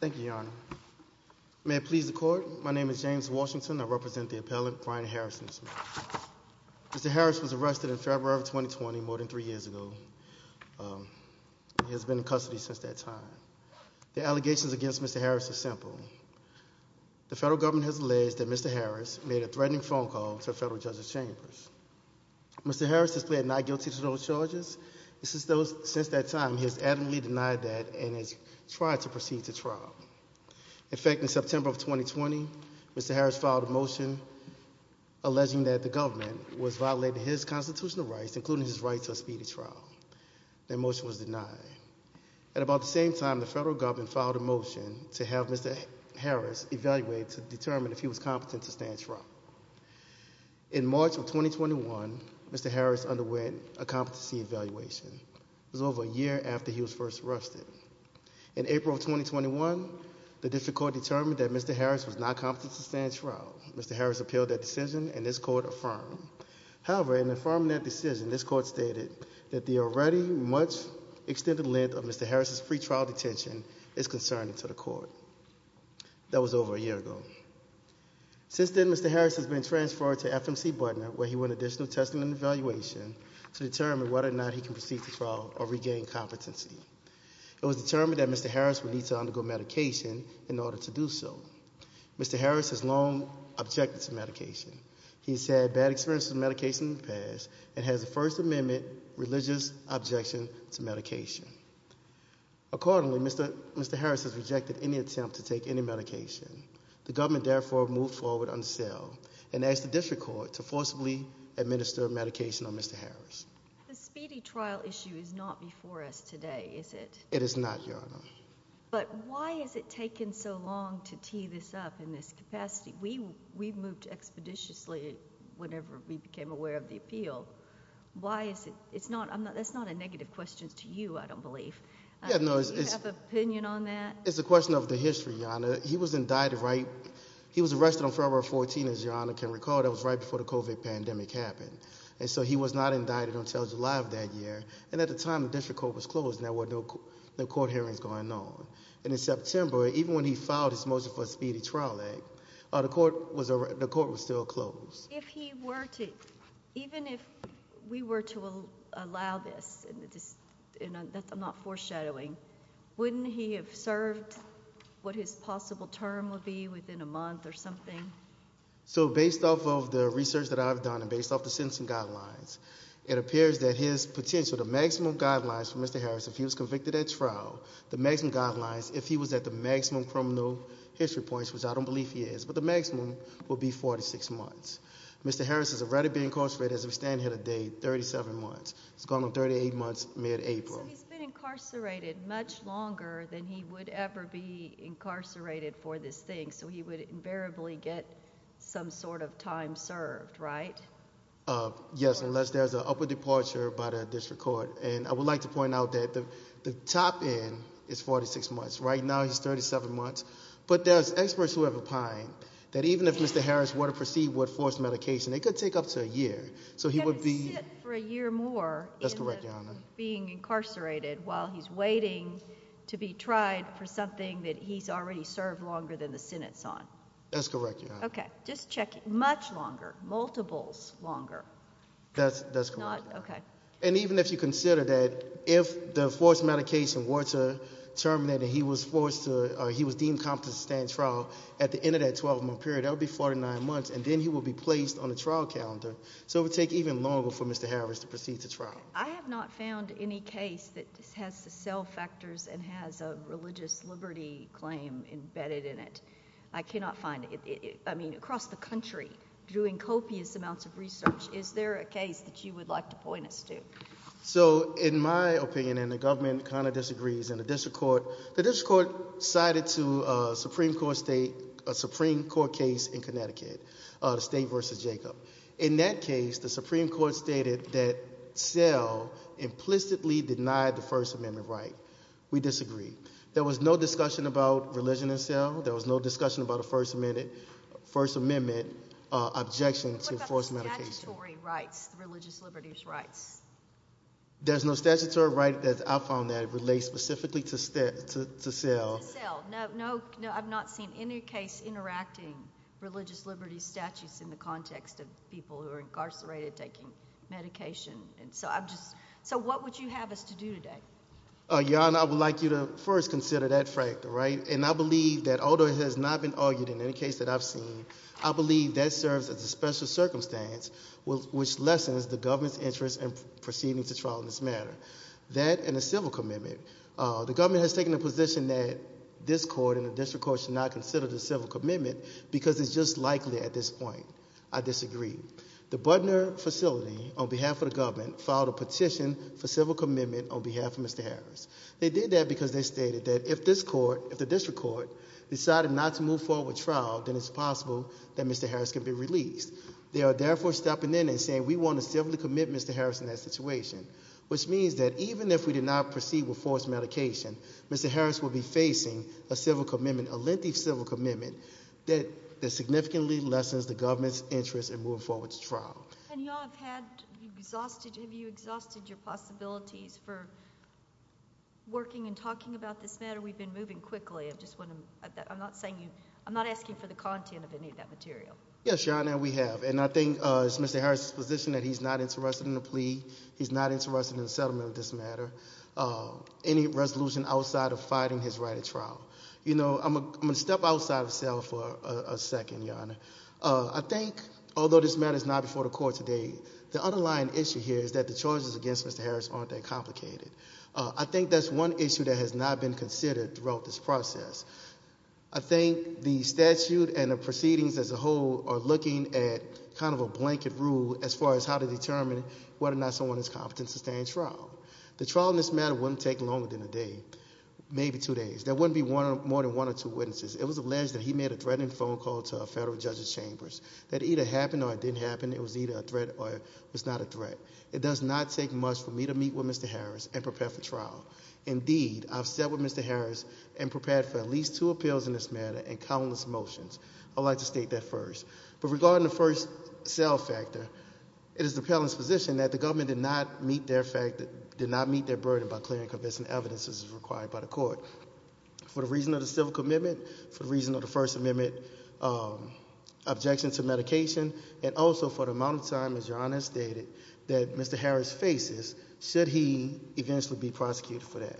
Thank you, Your Honor. May it please the court. My name is James Washington. I represent the appellant, Brian Harrison. Mr. Harris was arrested in February of 2020, more than three years ago. He has been in custody since that time. The allegations against Mr. Harris are simple. The federal government has alleged that Mr. Harris made a threatening phone call to federal judges chambers. Mr. Harris has pled not guilty to those charges. Since that time, he has adamantly denied that and has tried to proceed to trial. In fact, in September of 2020, Mr. Harris filed a motion alleging that the government was violating his constitutional rights, including his right to a speedy trial. That motion was denied. At about the same time, the federal government filed a motion to have Mr. Harris evaluated to determine if he was competent to stand trial. In March of 2021, Mr. Harris underwent a competency evaluation. It was over a year after he was first arrested. In April of 2021, the district court determined that Mr. Harris was not competent to stand trial. Mr. Harris appealed that decision and this court affirmed. However, in affirming that decision, this court stated that the already much extended length of Mr. Harris' free trial detention is concerning to the court. That was over a year ago. Since then, Mr. Harris has been transferred to FMC Butler, where he went additional testing and evaluation to determine whether or not he can proceed to trial or regain competency. It was determined that Mr. Harris would need to undergo medication in order to do so. Mr. Harris has long objected to medication. He has had bad experiences with medication in the past and has a First Amendment religious objection to medication. Accordingly, Mr. Harris has rejected any attempt to take any medication. The government therefore moved forward on the sale and asked the district court to forcibly administer medication on Mr. Harris. The speedy trial issue is not before us today, is it? It is not, Your Honor. But why has it taken so long to tee this up in this capacity? We moved expeditiously whenever we became aware of the appeal. Why is it? It's not a negative question to you, I don't believe. Do you have an opinion on that? It's a question of the history, Your Honor. He was indicted, right? He was arrested on February 14, as Your Honor can recall. That was right before the COVID pandemic happened. And so he was not indicted until July of that year. And at the time, the district court was closed and there were no court hearings going on. And in September, even when he filed his motion for a speedy trial, the court was still closed. Even if we were to allow this, and I'm not foreshadowing, wouldn't he have served what his possible term would be within a month or something? So based off of the research that I've done and based off the sentencing guidelines, it appears that his potential, the maximum guidelines for Mr. Harris, if he was convicted at trial, the maximum guidelines, if he was at the maximum criminal history points, which I don't believe he is, but the maximum would be 46 months. Mr. Harris has already been incarcerated, as we stand here today, 37 months. It's gone to 38 months, mid-April. So he's been incarcerated much longer than he would ever be incarcerated for this thing. So he would invariably get some sort of time served, right? Yes, unless there's an upward departure by the district court. And I would like to point out that the top end is 46 months. Right now, he's 37 months. But there's experts who have opined that even if Mr. Harris were to proceed with forced medication, it could take up to a year. He could sit for a year more in being incarcerated while he's waiting to be tried for something that he's already served longer than the Senate's on. That's correct, Your Honor. Okay. Just checking. Much longer. Multiples longer. That's correct. Okay. And even if you consider that if the forced medication were to terminate and he was deemed competent to stand trial, at the end of that 12-month period, that would be 49 months, and then he would be placed on the trial calendar. So it would take even longer for Mr. Harris to proceed to trial. I have not found any case that has the cell factors and has a religious liberty claim embedded in it. I cannot find it. I mean, across the country, doing copious amounts of research, is there a case that you would like to point us to? So, in my opinion, and the government kind of disagrees, and the district court cited a Supreme Court case in Connecticut, the state versus Jacob. In that case, the Supreme Court stated that cell implicitly denied the First Amendment right. We disagree. There was no discussion about religion in cell. There was no discussion about a First Amendment objection to forced medication. There's no statutory rights, religious liberties rights. There's no statutory right that I found that relates specifically to cell. To cell. No, I've not seen any case interacting religious liberties statutes in the context of people who are incarcerated taking medication. So what would you have us to do today? Your Honor, I would like you to first consider that factor, right? And I believe that although it has not been argued in any case that I've seen, I believe that serves as a special circumstance which lessens the government's interest in proceeding to trial in this matter. That and a civil commitment. The government has taken a position that this court and the district court should not consider the civil commitment because it's just likely at this point. I disagree. The Budner facility, on behalf of the government, filed a petition for civil commitment on behalf of Mr. Harris. They did that because they stated that if this court, if the district court, decided not to move forward with trial, then it's possible that Mr. Harris could be released. They are therefore stepping in and saying we want a civil commitment to Mr. Harris in that situation. Which means that even if we did not proceed with forced medication, Mr. Harris would be facing a civil commitment, a lengthy civil commitment, that significantly lessens the government's interest in moving forward to trial. Have you exhausted your possibilities for working and talking about this matter? We've been moving quickly. I'm not asking for the content of any of that material. Yes, Your Honor, we have. And I think it's Mr. Harris's position that he's not interested in the plea, he's not interested in the settlement of this matter, any resolution outside of fighting his right of trial. You know, I'm going to step outside of the cell for a second, Your Honor. I think, although this matter is not before the court today, the underlying issue here is that the charges against Mr. Harris aren't that complicated. I think that's one issue that has not been considered throughout this process. I think the statute and the proceedings as a whole are looking at kind of a blanket rule as far as how to determine whether or not someone is competent to stay in trial. The trial in this matter wouldn't take longer than a day, maybe two days. There wouldn't be more than one or two witnesses. It was alleged that he made a threatening phone call to a federal judge's chambers. That either happened or it didn't happen. It was either a threat or it was not a threat. It does not take much for me to meet with Mr. Harris and prepare for trial. Indeed, I've sat with Mr. Harris and prepared for at least two appeals in this matter and countless motions. I'd like to state that first. But regarding the first cell factor, it is the appellant's position that the government did not meet their burden by clearing and convincing evidence as required by the court. For the reason of the civil commitment, for the reason of the First Amendment objection to medication, and also for the amount of time, as Your Honor has stated, that Mr. Harris faces, should he eventually be prosecuted for that?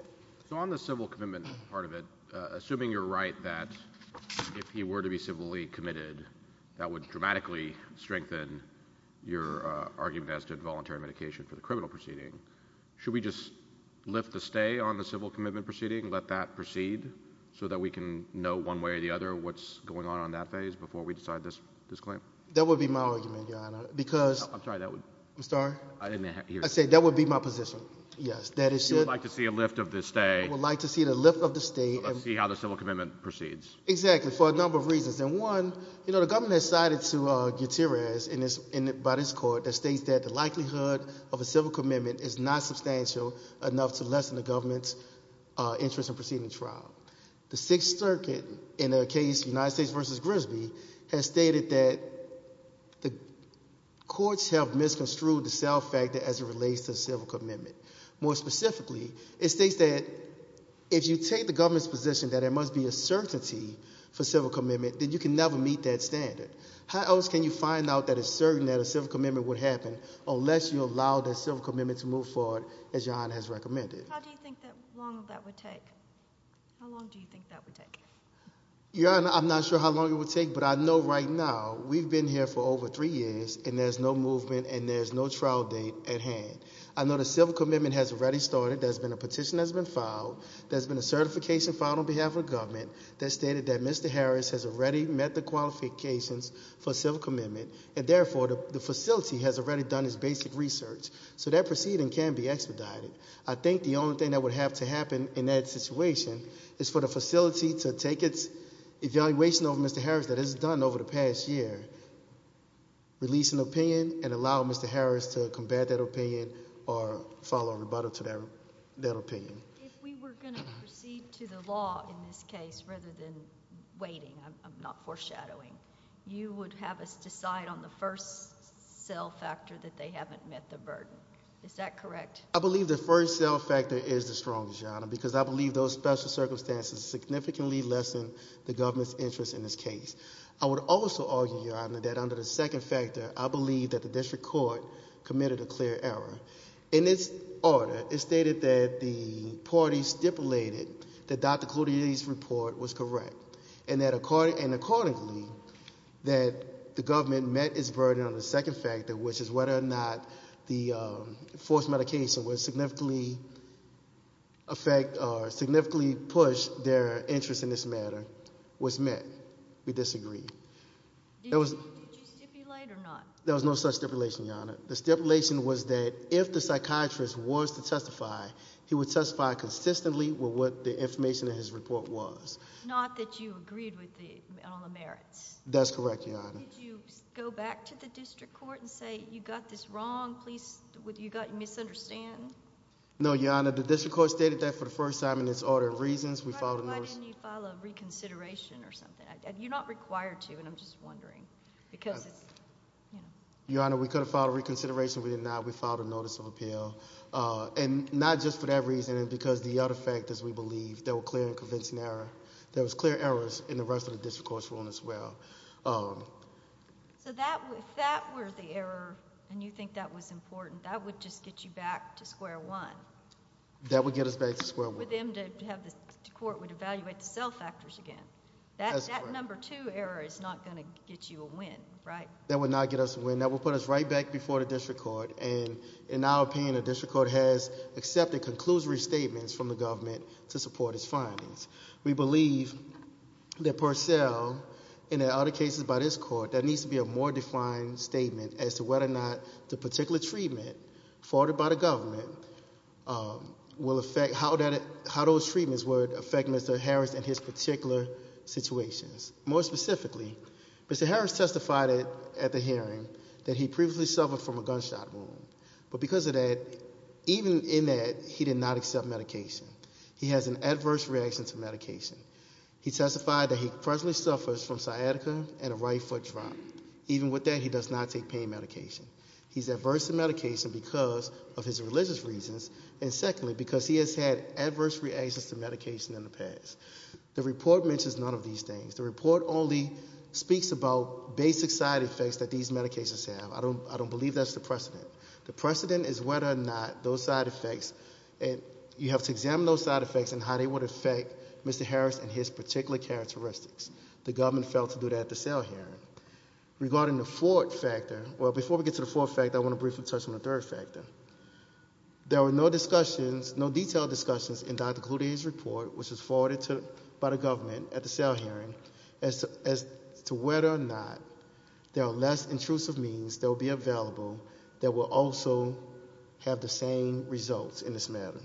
So on the civil commitment part of it, assuming you're right that if he were to be civilly committed, that would dramatically strengthen your argument as to involuntary medication for the criminal proceeding. Should we just lift the stay on the civil commitment proceeding, let that proceed, so that we can know one way or the other what's going on on that phase before we decide this claim? That would be my argument, Your Honor, because— I'm sorry, that would— I'm sorry? I didn't hear you. I said that would be my position. Yes. That it should— You would like to see a lift of the stay. I would like to see the lift of the stay. To see how the civil commitment proceeds. Exactly, for a number of reasons. And one, you know, the government has cited to Gutierrez by this court that states that the likelihood of a civil commitment is not substantial enough to lessen the government's interest in proceeding the trial. The Sixth Circuit in a case, United States v. Grisby, has stated that the courts have misconstrued the self-factor as it relates to civil commitment. More specifically, it states that if you take the government's position that there must be a certainty for civil commitment, then you can never meet that standard. How else can you find out that it's certain that a civil commitment would happen unless you allow the civil commitment to move forward as Your Honor has recommended? How do you think that long of that would take? How long do you think that would take? Your Honor, I'm not sure how long it would take, but I know right now we've been here for over three years, and there's no movement, and there's no trial date at hand. I know the civil commitment has already started. There's been a petition that's been filed. There's been a certification filed on behalf of the government that stated that Mr. Harris has already met the qualifications for civil commitment, and therefore the facility has already done its basic research. So that proceeding can be expedited. I think the only thing that would have to happen in that situation is for the facility to take its evaluation over Mr. Harris that it has done over the past year, release an opinion, and allow Mr. Harris to combat that opinion or follow a rebuttal to that opinion. If we were going to proceed to the law in this case rather than waiting, I'm not foreshadowing, you would have us decide on the first self-factor that they haven't met the burden. Is that correct? I believe the first self-factor is the strongest, Your Honor, because I believe those special circumstances significantly lessen the government's interest in this case. I would also argue, Your Honor, that under the second factor, I believe that the district court committed a clear error. In its order, it stated that the parties stipulated that Dr. Cloutier's report was correct. And accordingly, that the government met its burden on the second factor, which is whether or not the forced medication would significantly push their interest in this matter, was met. We disagree. Did you stipulate or not? No, Your Honor. The stipulation was that if the psychiatrist was to testify, he would testify consistently with what the information in his report was. Not that you agreed with it on the merits? That's correct, Your Honor. Did you go back to the district court and say, you got this wrong, you got it misunderstood? No, Your Honor. The district court stated that for the first time in its order of reasons. Why didn't you file a reconsideration or something? You're not required to, and I'm just wondering. Your Honor, we could have filed a reconsideration. We did not. We filed a notice of appeal. And not just for that reason, because the other factors, we believe, that were clear in convincing error. There was clear errors in the rest of the district court's ruling as well. So if that were the error, and you think that was important, that would just get you back to square one? That would get us back to square one. That's correct. So a clear error is not going to get you a win, right? That would not get us a win. That would put us right back before the district court. And in our opinion, the district court has accepted conclusory statements from the government to support its findings. We believe that Purcell, and in other cases by this court, there needs to be a more defined statement as to whether or not the particular treatment forwarded by the government will affect how those treatments would affect Mr. Harris and his particular situations. More specifically, Mr. Harris testified at the hearing that he previously suffered from a gunshot wound. But because of that, even in that, he did not accept medication. He has an adverse reaction to medication. He testified that he presently suffers from sciatica and a right foot drop. Even with that, he does not take pain medication. He's adverse to medication because of his religious reasons. And secondly, because he has had adverse reactions to medication in the past. The report mentions none of these things. The report only speaks about basic side effects that these medications have. I don't believe that's the precedent. The precedent is whether or not those side effects, you have to examine those side effects and how they would affect Mr. Harris and his particular characteristics. The government failed to do that at the sale hearing. Regarding the fourth factor, well, before we get to the fourth factor, I want to briefly touch on the third factor. There were no discussions, no detailed discussions in Dr. Cloutier's report, which was forwarded by the government at the sale hearing, as to whether or not there are less intrusive means that will be available that will also have the same results in this matter.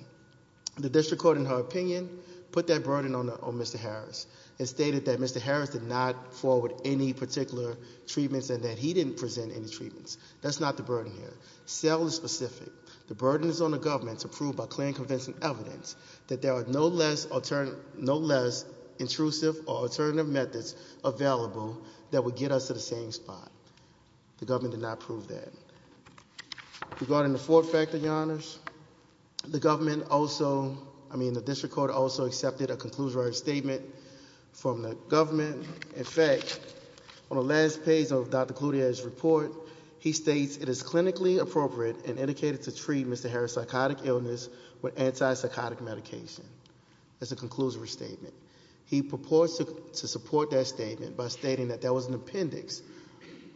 The district court, in her opinion, put that burden on Mr. Harris. It stated that Mr. Harris did not forward any particular treatments and that he didn't present any treatments. That's not the burden here. Sale is specific. The burden is on the government to prove by clear and convincing evidence that there are no less intrusive or alternative methods available that would get us to the same spot. The government did not prove that. Regarding the fourth factor, your honors, the government also, I mean, the district court also accepted a conclusive statement from the government. In fact, on the last page of Dr. Cloutier's report, he states it is clinically appropriate and indicated to treat Mr. Harris' psychotic illness with anti-psychotic medication. That's a conclusive statement. He purports to support that statement by stating that there was an appendix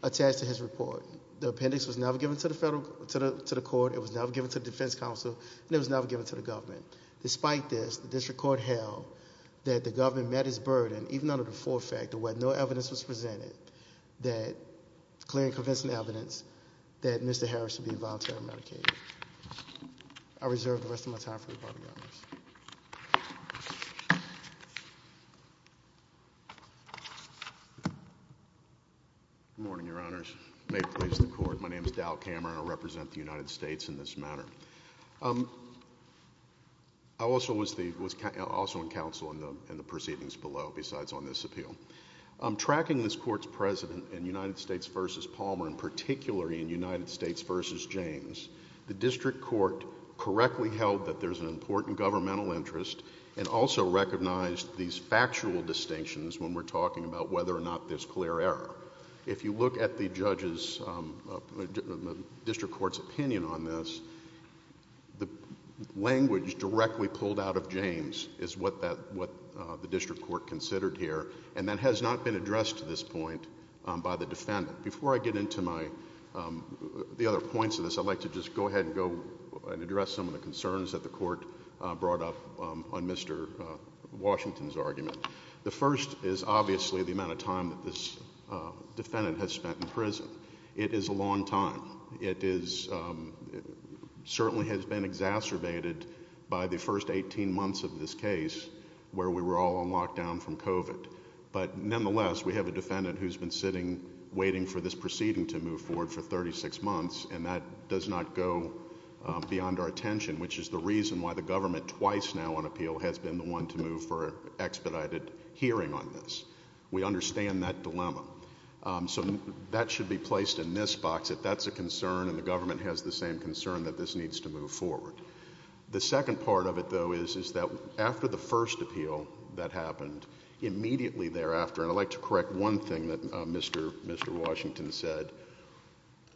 attached to his report. The appendix was never given to the court. It was never given to the defense counsel, and it was never given to the government. Despite this, the district court held that the government met its burden, even under the fourth factor, where no evidence was presented that clear and convincing evidence that Mr. Harris should be voluntarily medicated. I reserve the rest of my time for the Board of Governors. Good morning, your honors. May it please the Court. My name is Dal Cameron. I represent the United States in this matter. I also was in counsel in the proceedings below, besides on this appeal. Tracking this Court's precedent in United States v. Palmer, and particularly in United States v. James, the district court correctly held that there's an important governmental interest and also recognized these factual distinctions when we're talking about whether or not there's clear error. If you look at the district court's opinion on this, the language directly pulled out of James is what the district court considered here, and that has not been addressed to this point by the defendant. Before I get into the other points of this, I'd like to just go ahead and address some of the concerns that the court brought up on Mr. Washington's argument. The first is obviously the amount of time that this defendant has spent in prison. It is a long time. It certainly has been exacerbated by the first 18 months of this case, where we were all on lockdown from COVID. But nonetheless, we have a defendant who's been sitting waiting for this proceeding to move forward for 36 months, and that does not go beyond our attention, which is the reason why the government twice now on appeal has been the one to move for expedited hearing on this. We understand that dilemma. So that should be placed in this box if that's a concern and the government has the same concern that this needs to move forward. The second part of it, though, is that after the first appeal that happened, immediately thereafter, and I'd like to correct one thing that Mr. Washington said,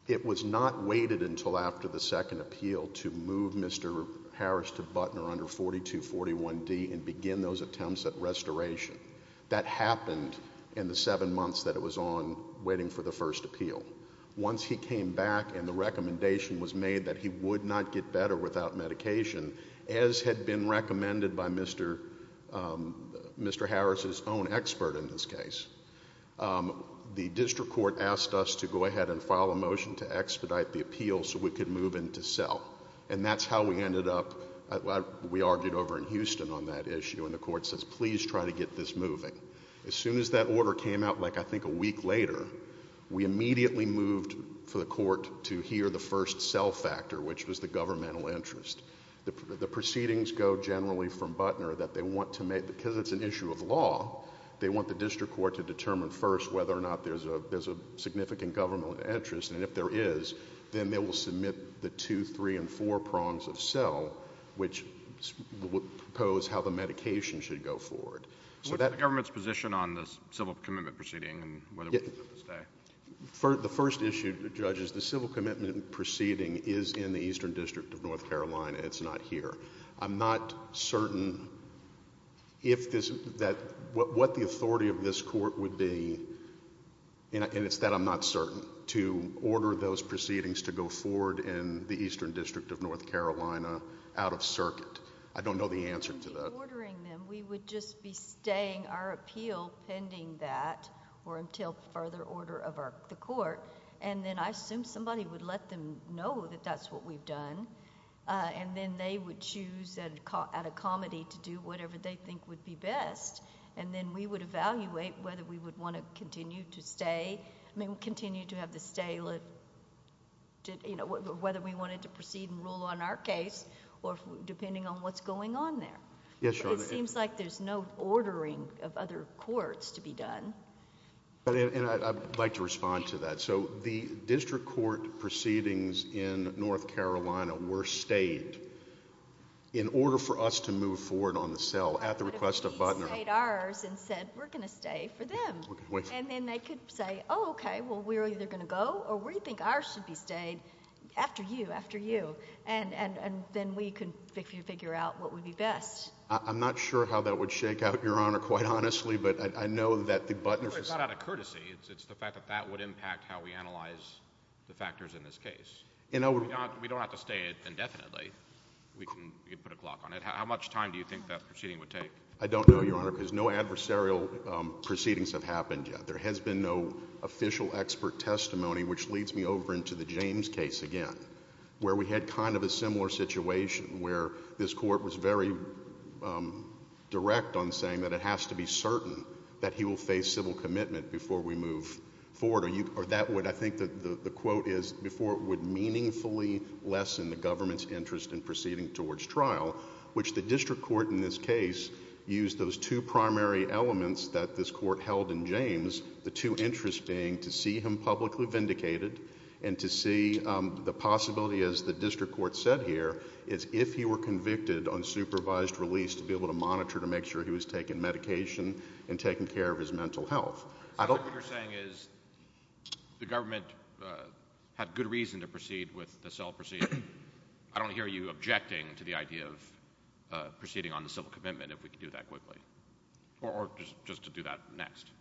it was not waited until after the second appeal to move Mr. Harris to Butner under 4241D and begin those attempts at restoration. That happened in the seven months that it was on waiting for the first appeal. Once he came back and the recommendation was made that he would not get better without medication, as had been recommended by Mr. Mr. Harris's own expert in this case, the district court asked us to go ahead and file a motion to expedite the appeal so we could move into cell. And that's how we ended up. We argued over in Houston on that issue, and the court says, please try to get this moving. As soon as that order came out, like I think a week later, we immediately moved for the court to hear the first cell factor, which was the governmental interest. The proceedings go generally from Butner that they want to make, because it's an issue of law, they want the district court to determine first whether or not there's a significant governmental interest, and if there is, then they will submit the two, three, and four prongs of cell, which would propose how the medication should go forward. What's the government's position on the civil commitment proceeding and whether we should let this stay? The first issue, Judge, is the civil commitment proceeding is in the Eastern District of North Carolina. It's not here. I'm not certain what the authority of this court would be, and it's that I'm not certain, to order those proceedings to go forward in the Eastern District of North Carolina out of circuit. I don't know the answer to that. If we were ordering them, we would just be staying our appeal pending that or until further order of the court, and then I assume somebody would let them know that that's what we've done, and then they would choose at a comedy to do whatever they think would be best, and then we would evaluate whether we would want to continue to stay, whether we wanted to proceed and rule on our case or depending on what's going on there. Yes, Your Honor. It seems like there's no ordering of other courts to be done. I'd like to respond to that. The district court proceedings in North Carolina were stayed in order for us to move forward on the cell at the request of Butner. But if he stayed ours and said we're going to stay for them, and then they could say, oh, okay, well, we're either going to go or we think ours should be stayed after you, after you, and then we could figure out what would be best. I'm not sure how that would shake out, Your Honor, quite honestly, but I know that the Butner system— It's not out of courtesy. It's the fact that that would impact how we analyze the factors in this case. We don't have to stay indefinitely. We can put a clock on it. How much time do you think that proceeding would take? I don't know, Your Honor, because no adversarial proceedings have happened yet. There has been no official expert testimony, which leads me over into the James case again, where we had kind of a similar situation where this court was very direct on saying that it has to be certain that he will face civil commitment before we move forward. I think the quote is, before it would meaningfully lessen the government's interest in proceeding towards trial, which the district court in this case used those two primary elements that this court held in James, the two interests being to see him publicly vindicated and to see the possibility, as the district court said here, is if he were convicted on supervised release to be able to monitor to make sure he was taking medication and taking care of his mental health. What you're saying is the government had good reason to proceed with the cell proceeding. I don't hear you objecting to the idea of proceeding on the civil commitment if we can do that quickly or just to do that next.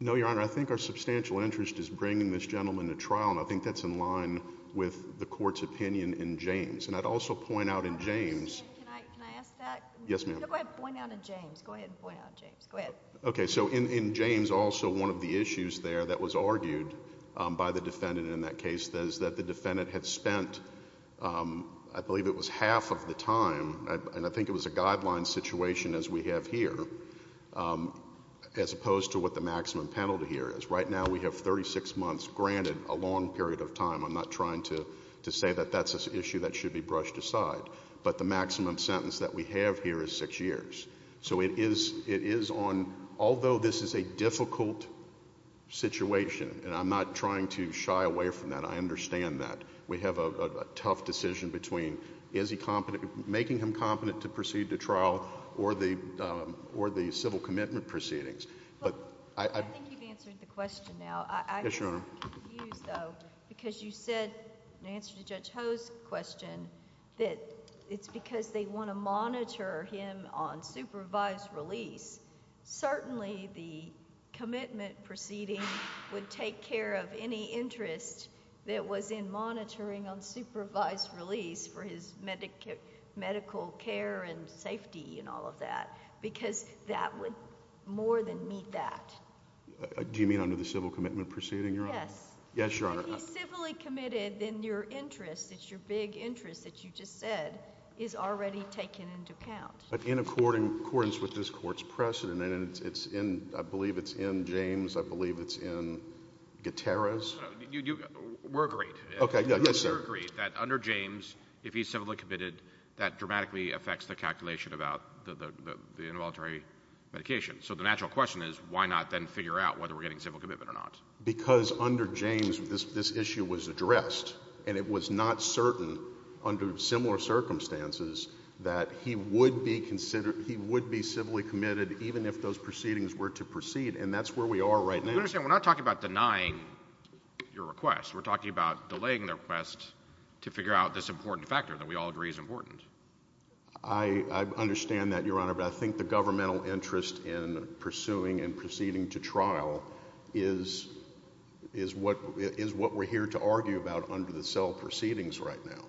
No, Your Honor. I think our substantial interest is bringing this gentleman to trial, and I think that's in line with the court's opinion in James. And I'd also point out in James— Can I ask that? Yes, ma'am. Go ahead and point out in James. Go ahead and point out in James. Go ahead. Okay, so in James, also one of the issues there that was argued by the defendant in that case is that the defendant had spent, I believe it was half of the time, and I think it was a guideline situation as we have here, as opposed to what the maximum penalty here is. Right now we have 36 months granted, a long period of time. I'm not trying to say that that's an issue that should be brushed aside, but the maximum sentence that we have here is six years. So it is on—although this is a difficult situation, and I'm not trying to shy away from that. I understand that. We have a tough decision between making him competent to proceed to trial or the civil commitment proceedings. I think you've answered the question now. Yes, Your Honor. I'm confused, though, because you said in answer to Judge Ho's question that it's because they want to monitor him on supervised release. Certainly the commitment proceeding would take care of any interest that was in monitoring on supervised release for his medical care and safety and all of that, because that would more than meet that. Do you mean under the civil commitment proceeding, Your Honor? Yes. Yes, Your Honor. If he's civilly committed, then your interest, it's your big interest that you just said, is already taken into account. But in accordance with this court's precedent, and it's in—I believe it's in James. I believe it's in Gutierrez. We're agreed. Okay. Yes, sir. We're agreed that under James, if he's civilly committed, that dramatically affects the calculation about the involuntary medication. So the natural question is why not then figure out whether we're getting civil commitment or not? Because under James, this issue was addressed, and it was not certain under similar circumstances that he would be civilly committed even if those proceedings were to proceed. And that's where we are right now. I understand. We're not talking about denying your request. We're talking about delaying the request to figure out this important factor that we all agree is important. I understand that, Your Honor, but I think the governmental interest in pursuing and proceeding to trial is what we're here to argue about under the cell proceedings right now,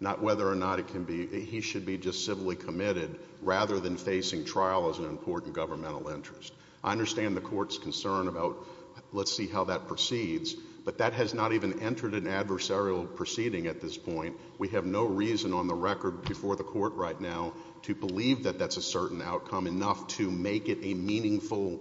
not whether or not it can be—he should be just civilly committed rather than facing trial as an important governmental interest. I understand the court's concern about let's see how that proceeds, but that has not even entered an adversarial proceeding at this point. We have no reason on the record before the court right now to believe that that's a certain outcome enough to make it a meaningful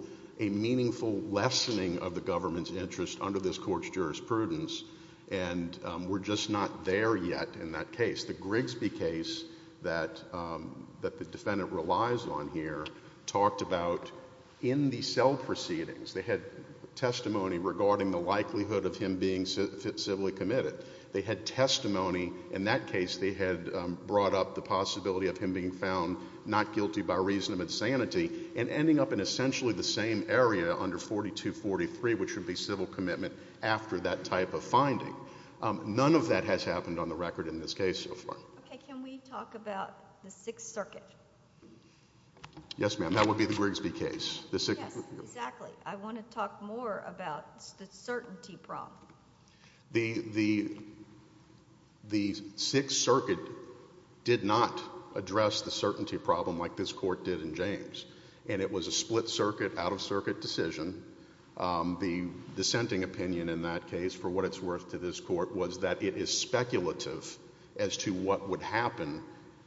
lessening of the government's interest under this court's jurisprudence, and we're just not there yet in that case. The Grigsby case that the defendant relies on here talked about in the cell proceedings. They had testimony regarding the likelihood of him being civilly committed. They had testimony in that case. They had brought up the possibility of him being found not guilty by reason of insanity and ending up in essentially the same area under 4243, which would be civil commitment after that type of finding. None of that has happened on the record in this case so far. Okay. Can we talk about the Sixth Circuit? Yes, ma'am. That would be the Grigsby case. Yes, exactly. I want to talk more about the certainty problem. The Sixth Circuit did not address the certainty problem like this court did in James, and it was a split circuit, out-of-circuit decision. The dissenting opinion in that case for what it's worth to this court was that it is speculative as to what would happen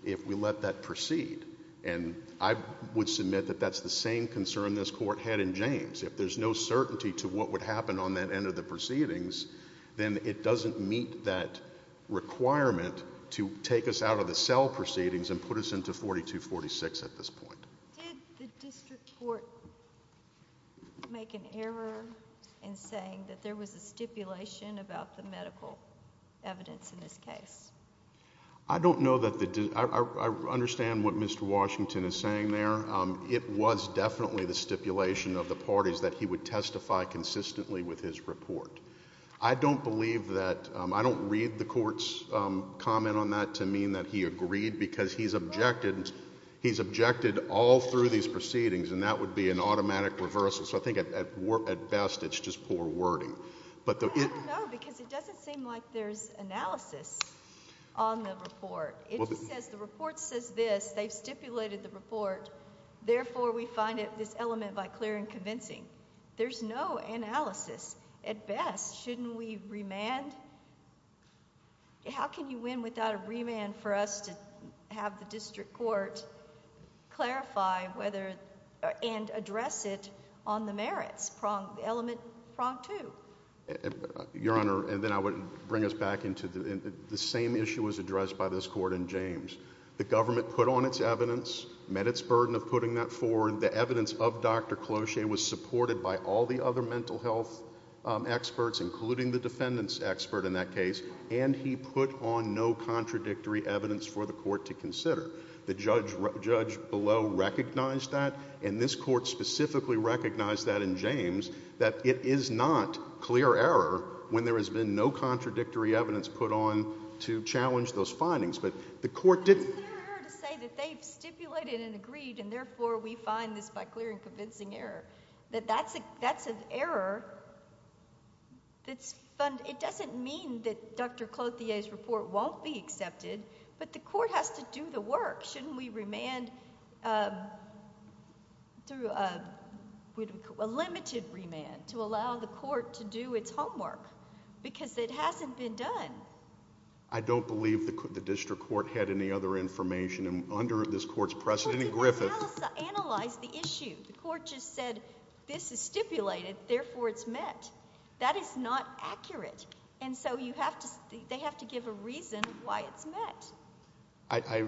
if we let that proceed, and I would submit that that's the same concern this court had in James. If there's no certainty to what would happen on that end of the proceedings, then it doesn't meet that requirement to take us out of the cell proceedings and put us into 4246 at this point. Did the district court make an error in saying that there was a stipulation about the medical evidence in this case? I don't know that the – I understand what Mr. Washington is saying there. It was definitely the stipulation of the parties that he would testify consistently with his report. I don't believe that – I don't read the court's comment on that to mean that he agreed because he's objected all through these proceedings, and that would be an automatic reversal, so I think at best it's just poor wording. I don't know because it doesn't seem like there's analysis on the report. It just says the report says this. They've stipulated the report. Therefore, we find this element by clear and convincing. There's no analysis. At best, shouldn't we remand? How can you win without a remand for us to have the district court clarify whether – and address it on the merits element prong two? Your Honor, and then I would bring us back into the same issue as addressed by this court in James. The government put on its evidence, met its burden of putting that forward. The evidence of Dr. Clocher was supported by all the other mental health experts, including the defendant's expert in that case, and he put on no contradictory evidence for the court to consider. The judge below recognized that, and this court specifically recognized that in James, that it is not clear error when there has been no contradictory evidence put on to challenge those findings. But the court didn't – But it's clear error to say that they've stipulated and agreed, and therefore we find this by clear and convincing error, that that's an error that's – it doesn't mean that Dr. Clocher's report won't be accepted, but the court has to do the work. Shouldn't we remand through a limited remand to allow the court to do its homework? Because it hasn't been done. I don't believe the district court had any other information under this court's precedent. Well, they analyzed the issue. The court just said this is stipulated, therefore it's met. That is not accurate, and so you have to – they have to give a reason why it's met. I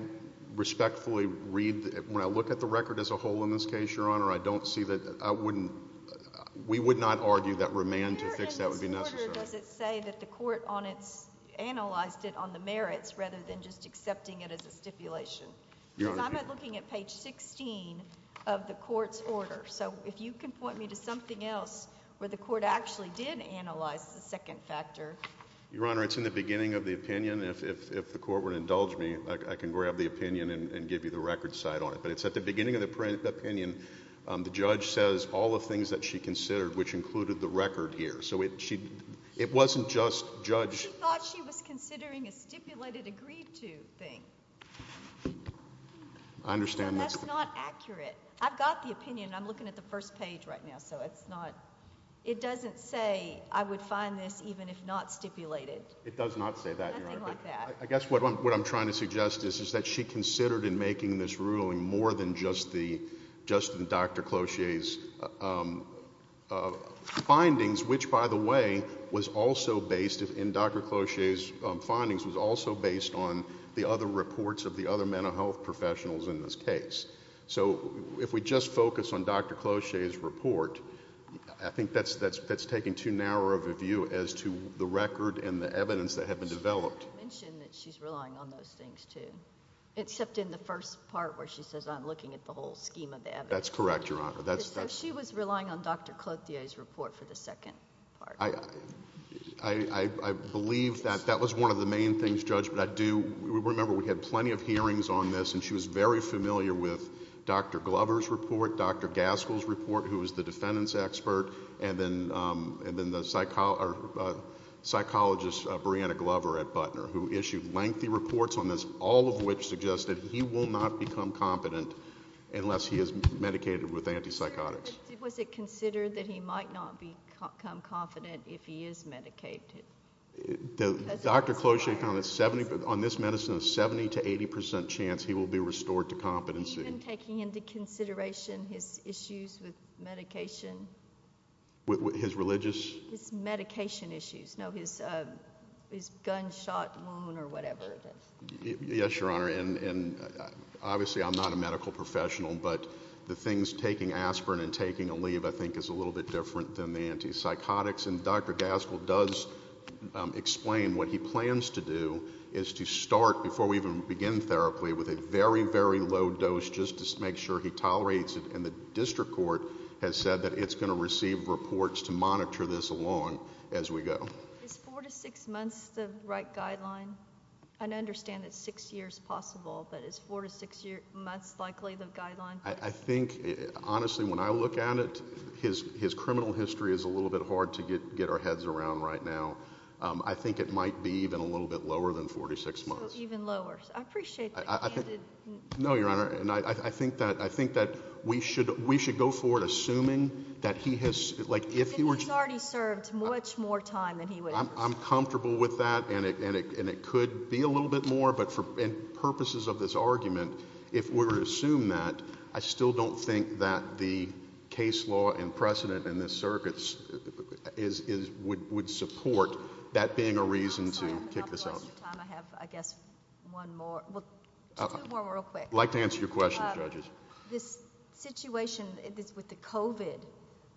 respectfully read – when I look at the record as a whole in this case, Your Honor, I don't see that – I wouldn't – we would not argue that remand to fix that would be necessary. Where in this order does it say that the court on its – analyzed it on the merits rather than just accepting it as a stipulation? Your Honor – Because I'm looking at page 16 of the court's order, so if you can point me to something else where the court actually did analyze the second factor. Your Honor, it's in the beginning of the opinion. If the court would indulge me, I can grab the opinion and give you the record side on it. But it's at the beginning of the opinion. The judge says all the things that she considered, which included the record here. So it wasn't just judge – She thought she was considering a stipulated agreed to thing. I understand that. So that's not accurate. I've got the opinion. I'm looking at the first page right now, so it's not – it doesn't say I would find this even if not stipulated. It does not say that, Your Honor. Nothing like that. I guess what I'm trying to suggest is that she considered in making this ruling more than just the – just the Dr. Clocher's findings, which, by the way, was also based – and Dr. Clocher's findings was also based on the other reports of the other mental health professionals in this case. So if we just focus on Dr. Clocher's report, I think that's taking too narrow of a view as to the record and the evidence that had been developed. You mentioned that she's relying on those things too, except in the first part where she says I'm looking at the whole scheme of evidence. That's correct, Your Honor. So she was relying on Dr. Clocher's report for the second part. I believe that that was one of the main things, Judge, but I do remember we had plenty of hearings on this, and she was very familiar with Dr. Glover's report, Dr. Gaskell's report, who was the defendants' expert, and then the psychologist Brianna Glover at Butner, who issued lengthy reports on this, all of which suggested he will not become competent unless he is medicated with antipsychotics. Was it considered that he might not become competent if he is medicated? Dr. Clocher found on this medicine a 70% to 80% chance he will be restored to competency. Even taking into consideration his issues with medication? His religious? His medication issues. No, his gunshot wound or whatever it is. Yes, Your Honor, and obviously I'm not a medical professional, but the things taking aspirin and taking Aleve I think is a little bit different than the antipsychotics, and Dr. Gaskell does explain what he plans to do is to start, before we even begin therapy, with a very, very low dose just to make sure he tolerates it, and the district court has said that it's going to receive reports to monitor this along as we go. Is four to six months the right guideline? I understand it's six years possible, but is four to six months likely the guideline? I think, honestly, when I look at it, his criminal history is a little bit hard to get our heads around right now. I think it might be even a little bit lower than 46 months. So even lower. I appreciate the candid. No, Your Honor, and I think that we should go forward assuming that he has, like if he were to. He already served much more time than he would. I'm comfortable with that, and it could be a little bit more, but for purposes of this argument, if we were to assume that, I still don't think that the case law and precedent in this circuit would support that being a reason to kick this out. I have, I guess, one more. Two more real quick. I'd like to answer your question, judges. This situation is with the covid.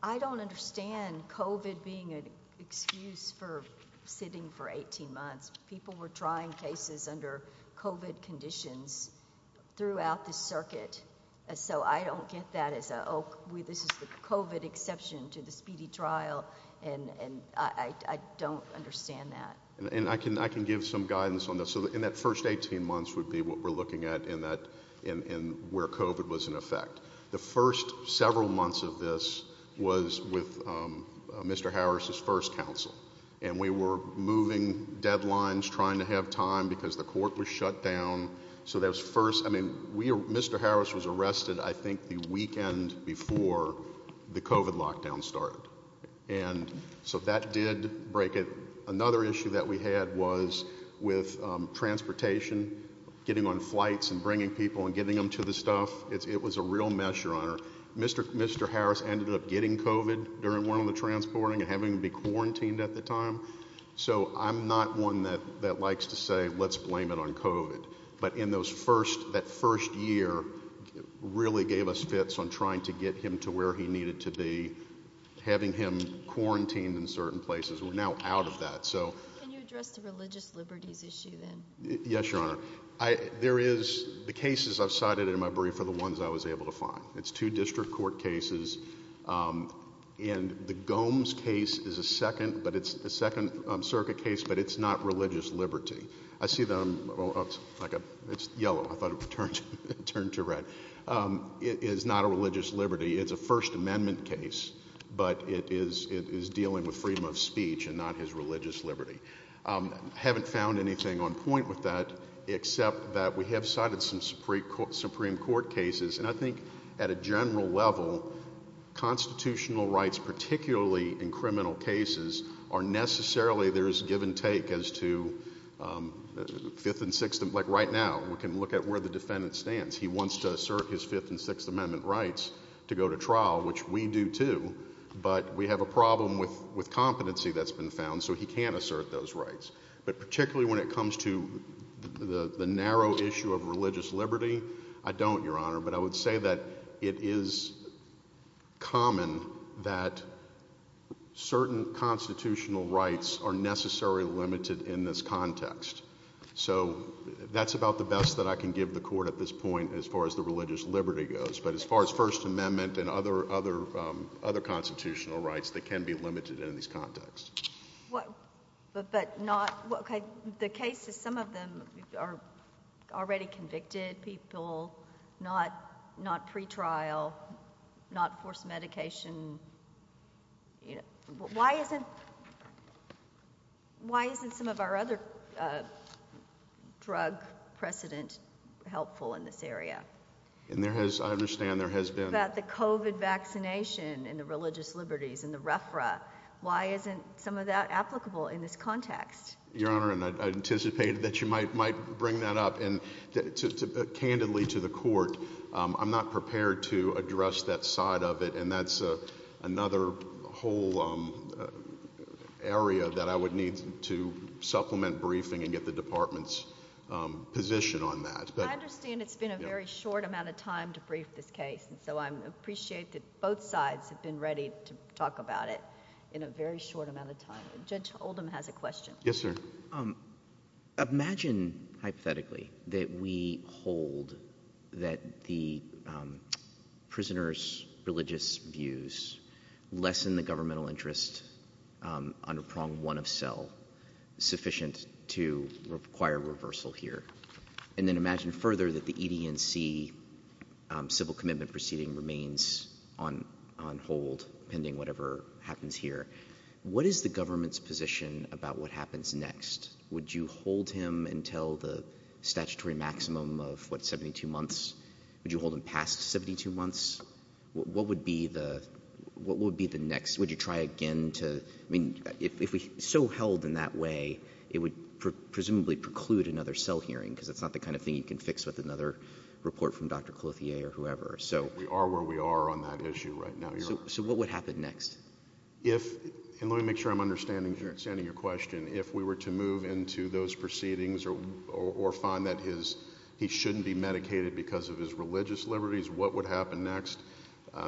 I don't understand covid being an excuse for sitting for 18 months. People were trying cases under covid conditions throughout the circuit. So I don't get that as a way. This is the covid exception to the speedy trial. And I don't understand that. And I can I can give some guidance on this. So in that first 18 months would be what we're looking at in that in where covid was in effect. The first several months of this was with Mr. Harris's first counsel, and we were moving deadlines, trying to have time because the court was shut down. So that was first. I mean, we Mr. Harris was arrested, I think, the weekend before the covid lockdown started. And so that did break it. Another issue that we had was with transportation, getting on flights and bringing people and getting them to the stuff. It was a real mess. Your honor. Mr. Mr. Harris ended up getting covid during one of the transporting and having to be quarantined at the time. So I'm not one that that likes to say let's blame it on covid. But in those first that first year really gave us fits on trying to get him to where he needed to be, having him quarantined in certain places. We're now out of that. So can you address the religious liberties issue then? Yes, your honor. I there is the cases I've cited in my brief for the ones I was able to find. It's two district court cases. And the Gomes case is a second, but it's the second circuit case. But it's not religious liberty. I see them like it's yellow. I thought it would turn to turn to red. It is not a religious liberty. It's a First Amendment case, but it is it is dealing with freedom of speech and not his religious liberty. Haven't found anything on point with that except that we have cited some Supreme Court Supreme Court cases. And I think at a general level, constitutional rights, particularly in criminal cases, are necessarily there is give and take as to fifth and sixth. Like right now, we can look at where the defendant stands. He wants to assert his Fifth and Sixth Amendment rights to go to trial, which we do, too. But we have a problem with with competency that's been found. So he can assert those rights. But particularly when it comes to the narrow issue of religious liberty, I don't, Your Honor. But I would say that it is common that certain constitutional rights are necessarily limited in this context. So that's about the best that I can give the court at this point as far as the religious liberty goes. But as far as First Amendment and other other other constitutional rights, they can be limited in these contexts. But but not the case is some of them are already convicted people, not not pretrial, not forced medication. Why isn't why isn't some of our other drug precedent helpful in this area? And there has I understand there has been that the covid vaccination and the religious liberties and the refra, why isn't some of that applicable in this context? Your Honor, and I anticipated that you might might bring that up and candidly to the court. I'm not prepared to address that side of it. And that's another whole area that I would need to supplement briefing and get the department's position on that. I understand it's been a very short amount of time to brief this case. And so I appreciate that both sides have been ready to talk about it in a very short amount of time. Judge Oldham has a question. Yes, sir. Imagine hypothetically that we hold that the prisoners religious views lessen the governmental interest on a prong one of cell sufficient to require reversal here. And then imagine further that the EDNC civil commitment proceeding remains on on hold pending whatever happens here. What is the government's position about what happens next? Would you hold him until the statutory maximum of what, 72 months? Would you hold him past 72 months? What would be the what would be the next? Would you try again to I mean, if we so held in that way, it would presumably preclude another cell hearing because it's not the kind of thing you can fix with another report from Dr. Clothier or whoever. So we are where we are on that issue right now. So what would happen next? If and let me make sure I'm understanding your question. If we were to move into those proceedings or or find that his he shouldn't be medicated because of his religious liberties, what would happen next?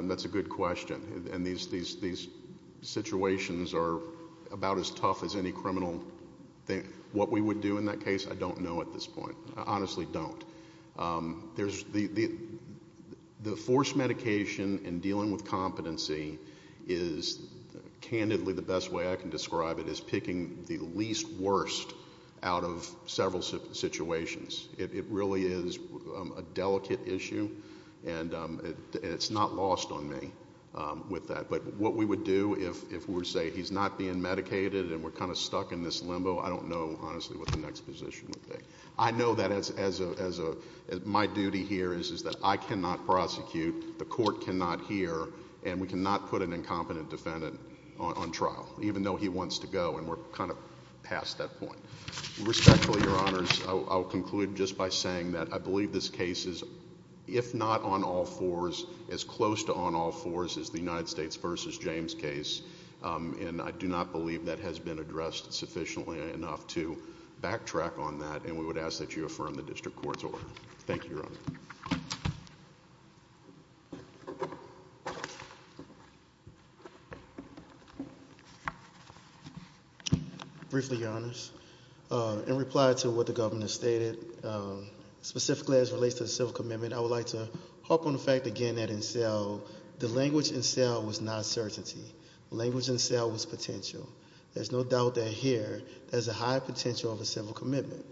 That's a good question. And these these these situations are about as tough as any criminal thing. What we would do in that case. I don't know at this point. I honestly don't. There's the the forced medication and dealing with competency is candidly the best way I can describe it is picking the least worst out of several situations. It really is a delicate issue. And it's not lost on me with that. But what we would do if if we were to say he's not being medicated and we're kind of stuck in this limbo, I don't know honestly what the next position. I know that as as a as a my duty here is, is that I cannot prosecute. The court cannot hear and we cannot put an incompetent defendant on trial, even though he wants to go. And we're kind of past that point. Respectfully, your honors, I'll conclude just by saying that I believe this case is, if not on all fours, as close to on all fours as the United States versus James case. And I do not believe that has been addressed sufficiently enough to backtrack on that. And we would ask that you affirm the district court's order. Thank you. Briefly, your honors. In reply to what the governor stated, specifically as it relates to the civil commitment, I would like to harp on the fact again that in cell, the language in cell was not certainty. Language in cell was potential. There's no doubt that here there's a high potential of a civil commitment.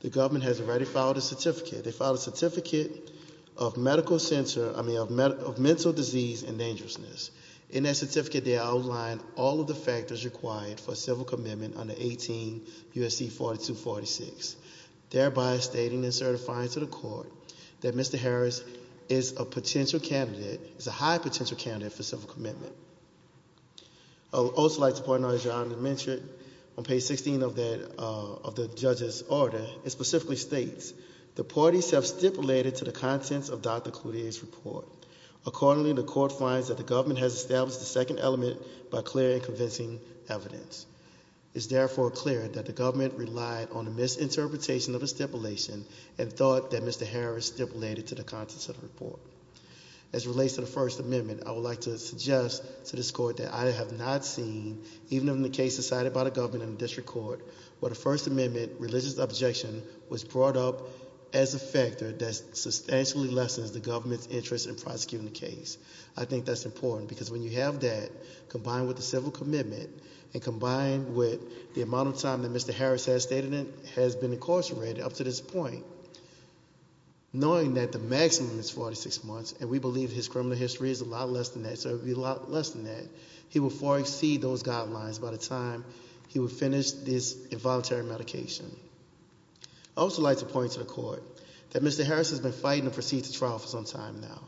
The government has already filed a certificate. They filed a certificate of medical center, I mean, of mental disease and dangerousness. In that certificate, they outlined all of the factors required for a civil commitment under 18 U.S.C. 4246. Thereby stating and certifying to the court that Mr. Harris is a potential candidate, is a high potential candidate for civil commitment. I would also like to point out, as your honor mentioned, on page 16 of the judge's order, it specifically states, the parties have stipulated to the contents of Dr. Cloutier's report. Accordingly, the court finds that the government has established a second element by clear and convincing evidence. It's therefore clear that the government relied on a misinterpretation of a stipulation and thought that Mr. Harris stipulated to the contents of the report. As it relates to the First Amendment, I would like to suggest to this court that I have not seen, even in the case decided by the government in the district court, where the First Amendment, religious objection was brought up as a factor that substantially lessens the government's interest in prosecuting the case. I think that's important, because when you have that, combined with the civil commitment, and combined with the amount of time that Mr. Harris has been incarcerated up to this point, knowing that the maximum is 46 months, and we believe his criminal history is a lot less than that, so it would be a lot less than that, he would far exceed those guidelines by the time he would finish this involuntary medication. I would also like to point to the court that Mr. Harris has been fighting to proceed to trial for some time now.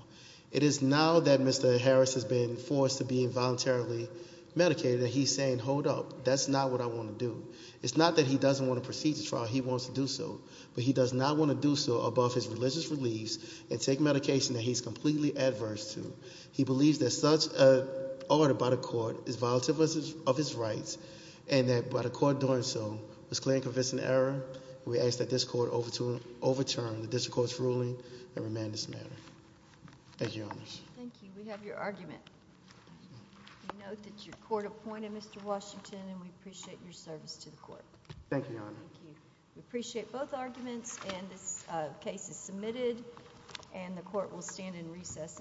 It is now that Mr. Harris has been forced to be involuntarily medicated that he's saying, hold up, that's not what I want to do. It's not that he doesn't want to proceed to trial, he wants to do so. But he does not want to do so above his religious beliefs and take medication that he's completely adverse to. He believes that such an order by the court is violative of his rights, and that by the court doing so, it's clear and convincing error, and we ask that this court overturn the district court's ruling and remand this matter. Thank you, Your Honor. Thank you. We have your argument. We note that your court appointed Mr. Washington, and we appreciate your service to the court. Thank you, Your Honor. Thank you. We appreciate both arguments, and this case is submitted, and the court will stand in recess until tomorrow.